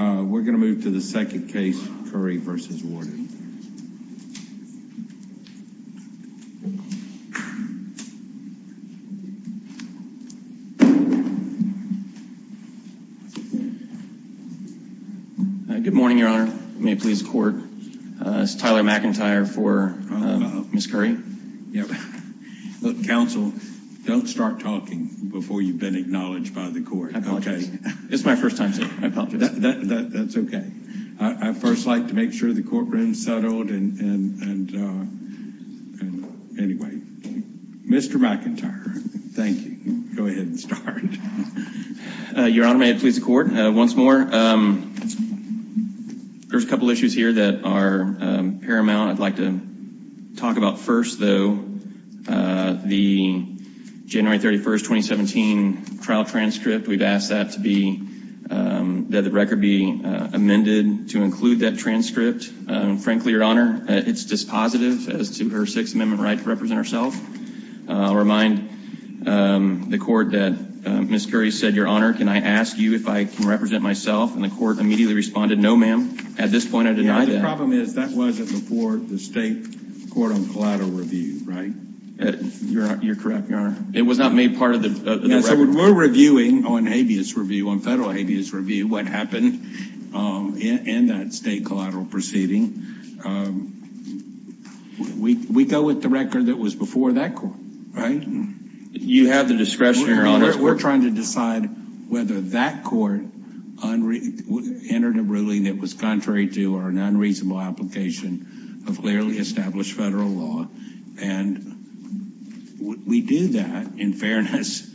We're going to move to the second case, Curry v. Warden. Good morning, Your Honor. May it please the Court? This is Tyler McIntyre for Ms. Curry. Counsel, don't start talking before you've been acknowledged by the Court. I apologize. It's my first time, sir. I apologize. That's okay. I'd first like to make sure the courtroom is settled. Anyway, Mr. McIntyre, thank you. Go ahead and start. Your Honor, may it please the Court? Once more. There's a couple issues here that are paramount I'd like to talk about first, though. The January 31, 2017, trial transcript, we've asked that the record be amended to include that transcript. Frankly, Your Honor, it's dispositive as to her Sixth Amendment right to represent herself. I'll remind the Court that Ms. Curry said, Your Honor, can I ask you if I can represent myself? And the Court immediately responded, No, ma'am. At this point, I deny that. The problem is that wasn't before the State Court on Collateral Review, right? You're correct, Your Honor. It was not made part of the record. We're reviewing on habeas review, on federal habeas review, what happened in that State collateral proceeding. We go with the record that was before that court, right? You have the discretion, Your Honor. We're trying to decide whether that court entered a ruling that was contrary to or an unreasonable application of clearly established federal law. And we do that in fairness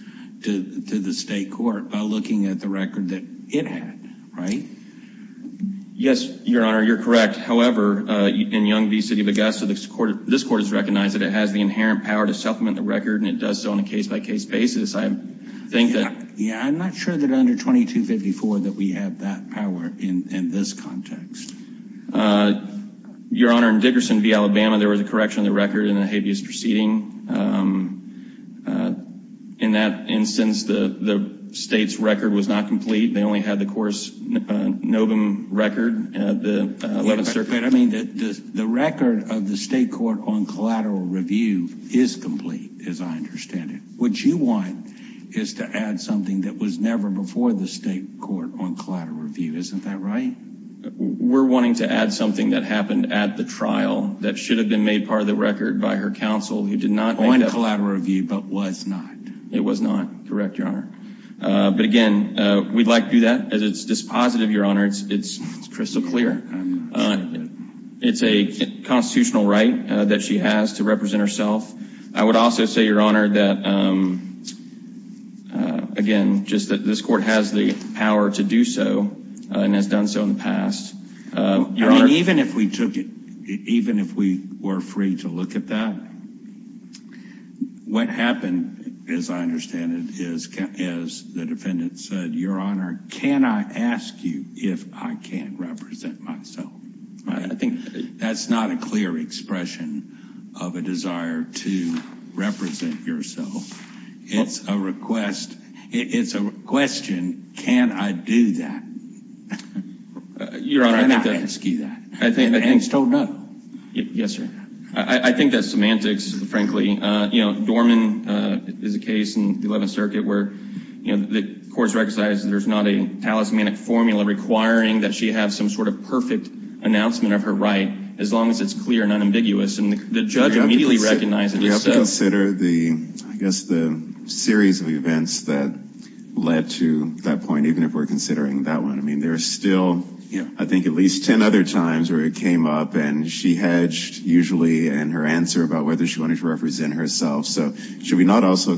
to the State Court by looking at the record that it had, right? Yes, Your Honor, you're correct. However, in Yonge v. City of Augusta, this Court has recognized that it has the inherent power to supplement the record, and it does so on a case-by-case basis. I think that... Yeah, I'm not sure that under 2254 that we have that power in this context. Your Honor, in Dickerson v. Alabama, there was a correction of the record in the habeas proceeding. In that instance, the State's record was not complete. They only had the course novum record, the 11th Circuit. I mean, the record of the State Court on collateral review is complete, as I understand it. What you want is to add something that was never before the State Court on collateral review. Isn't that right? We're wanting to add something that happened at the trial that should have been made part of the record by her counsel, who did not end up... On collateral review, but was not. It was not, correct, Your Honor. But again, we'd like to do that. As it's dispositive, Your Honor, it's crystal clear. It's a constitutional right that she has to represent herself. I would also say, Your Honor, that, again, just that this court has the power to do so and has done so in the past. Even if we took it, even if we were free to look at that, what happened, as I understand it, is, as the defendant said, Your Honor, can I ask you if I can represent myself? I think that's not a clear expression of a desire to represent yourself. It's a request. It's a question, can I do that? Your Honor, I think that... Can I ask you that? I think... And still no. Yes, sir. I think that's semantics, frankly. You know, Dorman is a case in the Eleventh Circuit where, you know, the courts recognize there's not a talismanic formula requiring that she have some sort of perfect announcement of her right, as long as it's clear and unambiguous. And the judge immediately recognized it. We have to consider, I guess, the series of events that led to that point, even if we're considering that one. I mean, there are still, I think, at least ten other times where it came up, and she hedged, usually, in her answer about whether she wanted to represent herself. So should we not also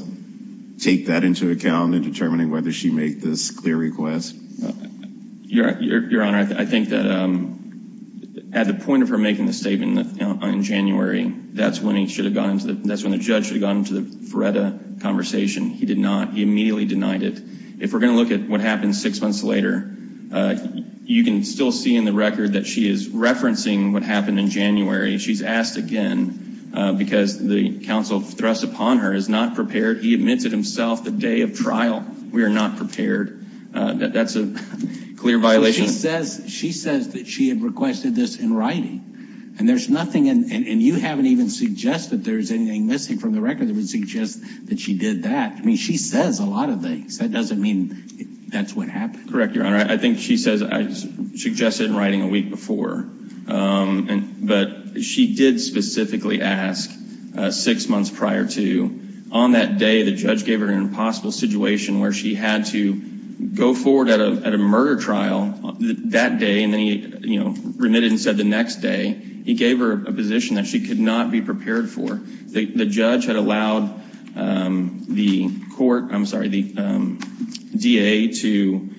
take that into account in determining whether she made this clear request? Your Honor, I think that at the point of her making the statement in January, that's when the judge should have gone into the Feretta conversation. He did not. He immediately denied it. If we're going to look at what happened six months later, you can still see in the record that she is referencing what happened in January. She's asked again because the counsel thrust upon her is not prepared. He admitted himself the day of trial. We are not prepared. That's a clear violation. She says that she had requested this in writing. And there's nothing, and you haven't even suggested there's anything missing from the record that would suggest that she did that. I mean, she says a lot of things. That doesn't mean that's what happened. Correct, Your Honor. I think she says I suggested in writing a week before. But she did specifically ask six months prior to. On that day, the judge gave her an impossible situation where she had to go forward at a murder trial that day, and then he remitted and said the next day. He gave her a position that she could not be prepared for. The judge had allowed the DA to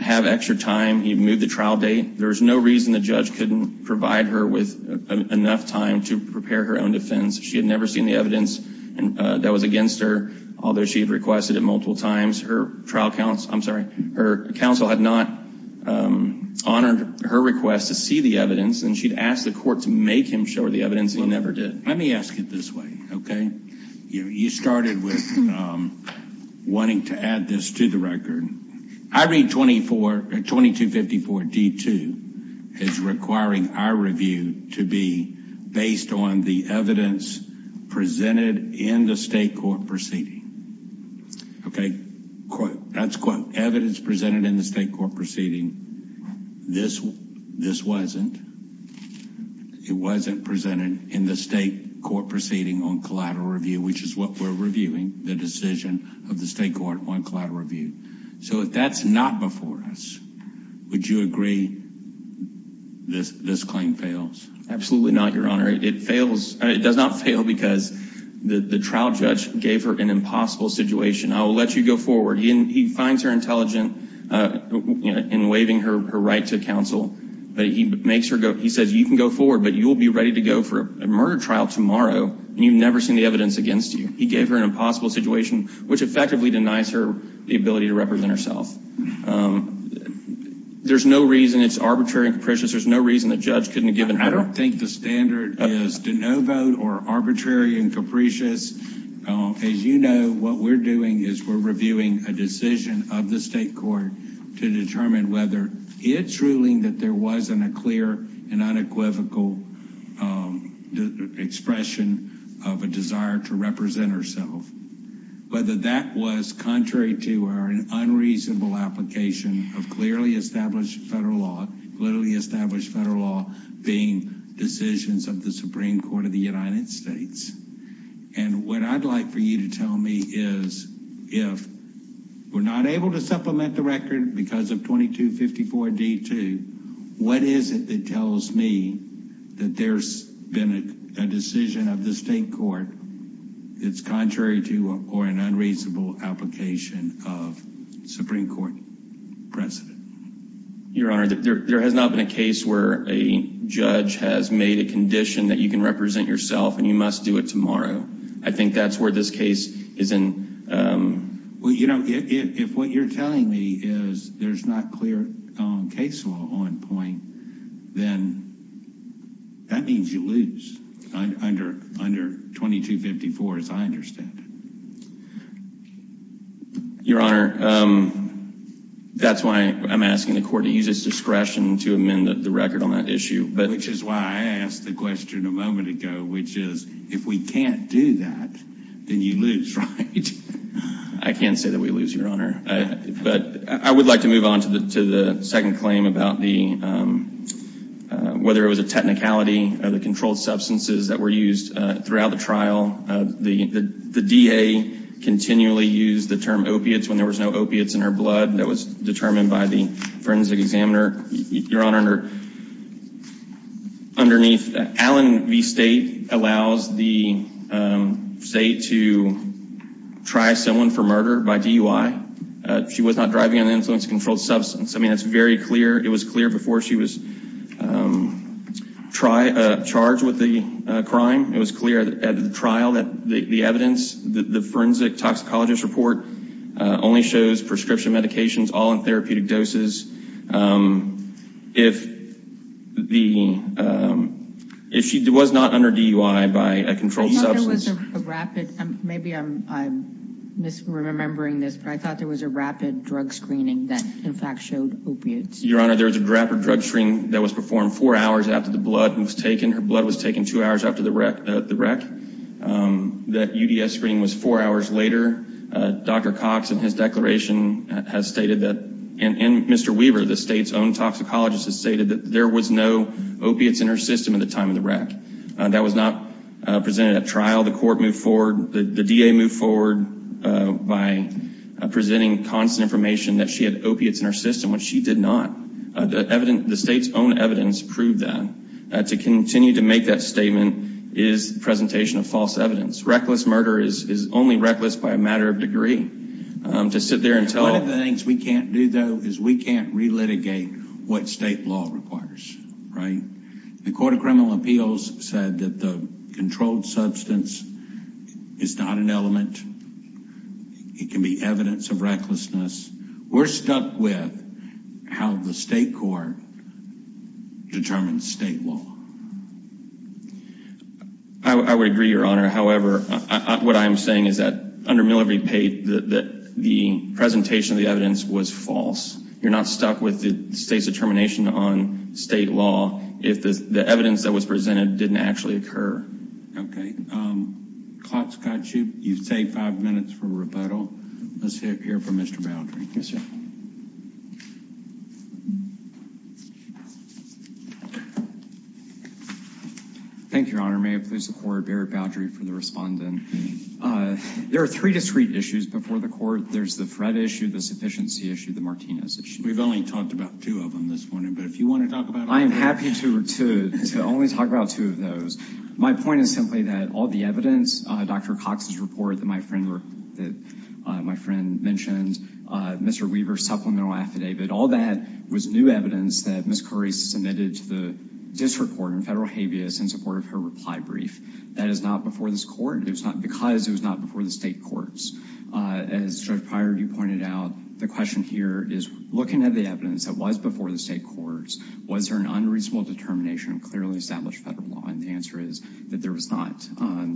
have extra time. He had moved the trial date. There was no reason the judge couldn't provide her with enough time to prepare her own defense. She had never seen the evidence that was against her, although she had requested it multiple times. Her trial counsel had not honored her request to see the evidence, and she had asked the court to make him show her the evidence, and he never did. Let me ask it this way, okay? You started with wanting to add this to the record. I read 2254 D2 as requiring our review to be based on the evidence presented in the state court proceeding. Okay? That's quote, evidence presented in the state court proceeding. This wasn't. It wasn't presented in the state court proceeding on collateral review, which is what we're reviewing, the decision of the state court on collateral review. So if that's not before us, would you agree this claim fails? Absolutely not, Your Honor. It fails. It does not fail because the trial judge gave her an impossible situation. I will let you go forward. He finds her intelligent in waiving her right to counsel, but he makes her go. He says you can go forward, but you will be ready to go for a murder trial tomorrow, and you've never seen the evidence against you. He gave her an impossible situation, which effectively denies her the ability to represent herself. There's no reason it's arbitrary and capricious. There's no reason the judge couldn't have given her. I don't think the standard is to no vote or arbitrary and capricious. As you know, what we're doing is we're reviewing a decision of the state court to determine whether it's ruling that there wasn't a clear and unequivocal expression of a desire to represent herself, whether that was contrary to our unreasonable application of clearly established federal law, being decisions of the Supreme Court of the United States. And what I'd like for you to tell me is if we're not able to supplement the record because of 2254D2, what is it that tells me that there's been a decision of the state court that's contrary to or an unreasonable application of Supreme Court precedent? Your Honor, there has not been a case where a judge has made a condition that you can represent yourself and you must do it tomorrow. I think that's where this case is in. Well, you know, if what you're telling me is there's not clear case law on point, then that means you lose under 2254, as I understand it. Your Honor, that's why I'm asking the court to use its discretion to amend the record on that issue. Which is why I asked the question a moment ago, which is if we can't do that, then you lose, right? I can't say that we lose, Your Honor. But I would like to move on to the second claim about whether it was a technicality of the controlled substances that were used throughout the trial. The DA continually used the term opiates when there was no opiates in her blood. That was determined by the forensic examiner. Your Honor, underneath, Allen v. State allows the state to try someone for murder by DUI. She was not driving an influence-controlled substance. I mean, it's very clear. It was clear before she was charged with the crime. It was clear at the trial that the evidence, the forensic toxicologist report, only shows prescription medications, all in therapeutic doses. If she was not under DUI by a controlled substance. I thought there was a rapid, maybe I'm misremembering this, but I thought there was a rapid drug screening that, in fact, showed opiates. Your Honor, there was a rapid drug screening that was performed four hours after the blood was taken. Her blood was taken two hours after the wreck. That UDS screening was four hours later. Dr. Cox, in his declaration, has stated that, and Mr. Weaver, the state's own toxicologist, has stated that there was no opiates in her system at the time of the wreck. That was not presented at trial. The court moved forward. The DA moved forward by presenting constant information that she had opiates in her system, which she did not. The state's own evidence proved that. To continue to make that statement is presentation of false evidence. Reckless murder is only reckless by a matter of degree. One of the things we can't do, though, is we can't relitigate what state law requires. The Court of Criminal Appeals said that the controlled substance is not an element. It can be evidence of recklessness. We're stuck with how the state court determines state law. I would agree, Your Honor. However, what I am saying is that under Miller v. Pate, the presentation of the evidence was false. You're not stuck with the state's determination on state law if the evidence that was presented didn't actually occur. Okay. Clock's got you. You've saved five minutes for rebuttal. Let's hear from Mr. Boudry. Yes, sir. Thank you, Your Honor. May it please the Court, Barrett Boudry for the respondent. There are three discrete issues before the Court. There's the Fred issue, the sufficiency issue, the Martinez issue. We've only talked about two of them this morning, but if you want to talk about all of them. I am happy to only talk about two of those. My point is simply that all the evidence, Dr. Cox's report that my friend mentioned, Mr. Weaver's supplemental affidavit, all that was new evidence that Ms. Curry submitted to the district court in federal habeas in support of her reply brief. That is not before this Court. It was not because it was not before the state courts. As Judge Pryor, you pointed out, the question here is looking at the evidence that was before the state courts, was there an unreasonable determination of clearly established federal law? And the answer is that there was not.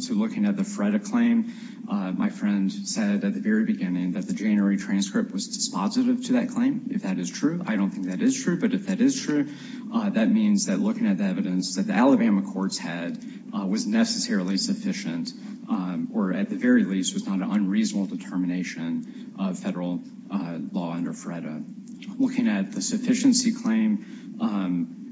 So looking at the FREDA claim, my friend said at the very beginning that the January transcript was dispositive to that claim. If that is true, I don't think that is true. But if that is true, that means that looking at the evidence that the Alabama courts had was necessarily sufficient, or at the very least was not an unreasonable determination of federal law under FREDA. Looking at the sufficiency claim, I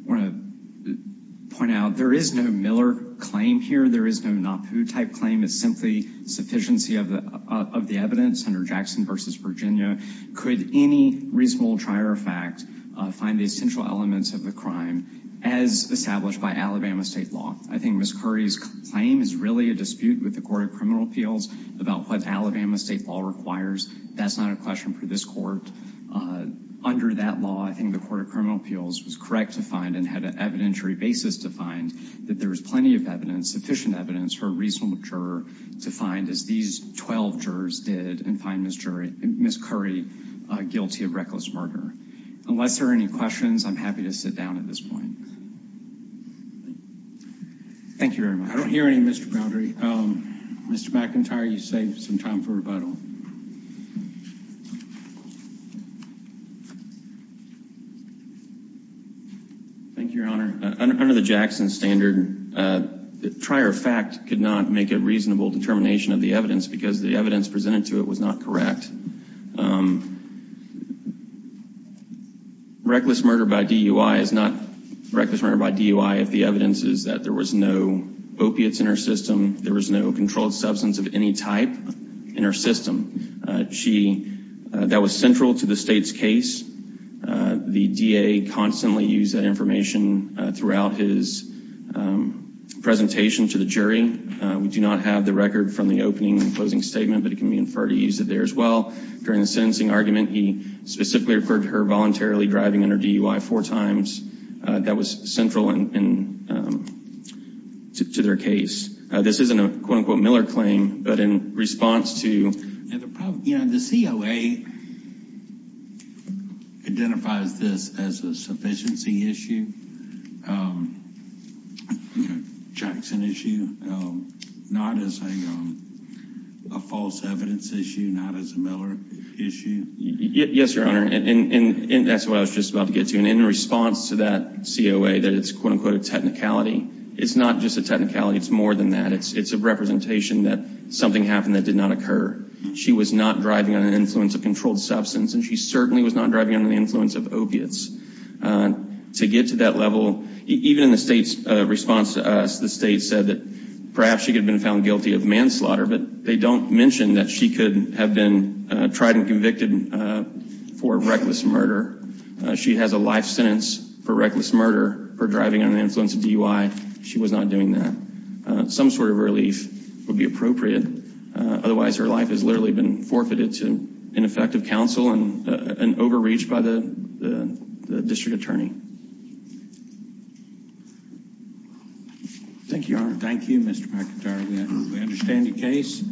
want to point out there is no Miller claim here. There is no Napu type claim. It's simply sufficiency of the evidence under Jackson v. Virginia. Could any reasonable trier fact find the essential elements of the crime as established by Alabama state law? I think Ms. Curry's claim is really a dispute with the Court of Criminal Appeals about what Alabama state law requires. That's not a question for this court. Under that law, I think the Court of Criminal Appeals was correct to find and had an evidentiary basis to find that there was plenty of evidence, sufficient evidence, for a reasonable juror to find as these 12 jurors did and find Ms. Curry guilty of reckless murder. Unless there are any questions, I'm happy to sit down at this point. Thank you very much. I don't hear any, Mr. Boundary. Mr. McIntyre, you saved some time for rebuttal. Thank you, Your Honor. Under the Jackson standard, the trier fact could not make a reasonable determination of the evidence because the evidence presented to it was not correct. Reckless murder by DUI is not reckless murder by DUI if the evidence is that there was no opiates in her system, there was no controlled substance of any type in her system. That was central to the state's case. The DA constantly used that information throughout his presentation to the jury. We do not have the record from the opening and closing statement, but it can be inferred he used it there as well. During the sentencing argument, he specifically referred to her voluntarily driving under DUI four times. That was central to their case. This isn't a quote-unquote Miller claim, but in response to The COA identifies this as a sufficiency issue, Jackson issue, not as a false evidence issue, not as a Miller issue. Yes, Your Honor, and that's what I was just about to get to. In response to that COA that it's a quote-unquote technicality, it's not just a technicality, it's more than that. It's a representation that something happened that did not occur. She was not driving under the influence of controlled substance, and she certainly was not driving under the influence of opiates. To get to that level, even in the state's response to us, the state said that perhaps she could have been found guilty of manslaughter, but they don't mention that she could have been tried and convicted for reckless murder. She has a life sentence for reckless murder for driving under the influence of DUI. She was not doing that. Some sort of relief would be appropriate. Otherwise, her life has literally been forfeited to ineffective counsel and an overreach by the district attorney. Thank you, Your Honor. Thank you, Mr. McIntyre. We understand the case.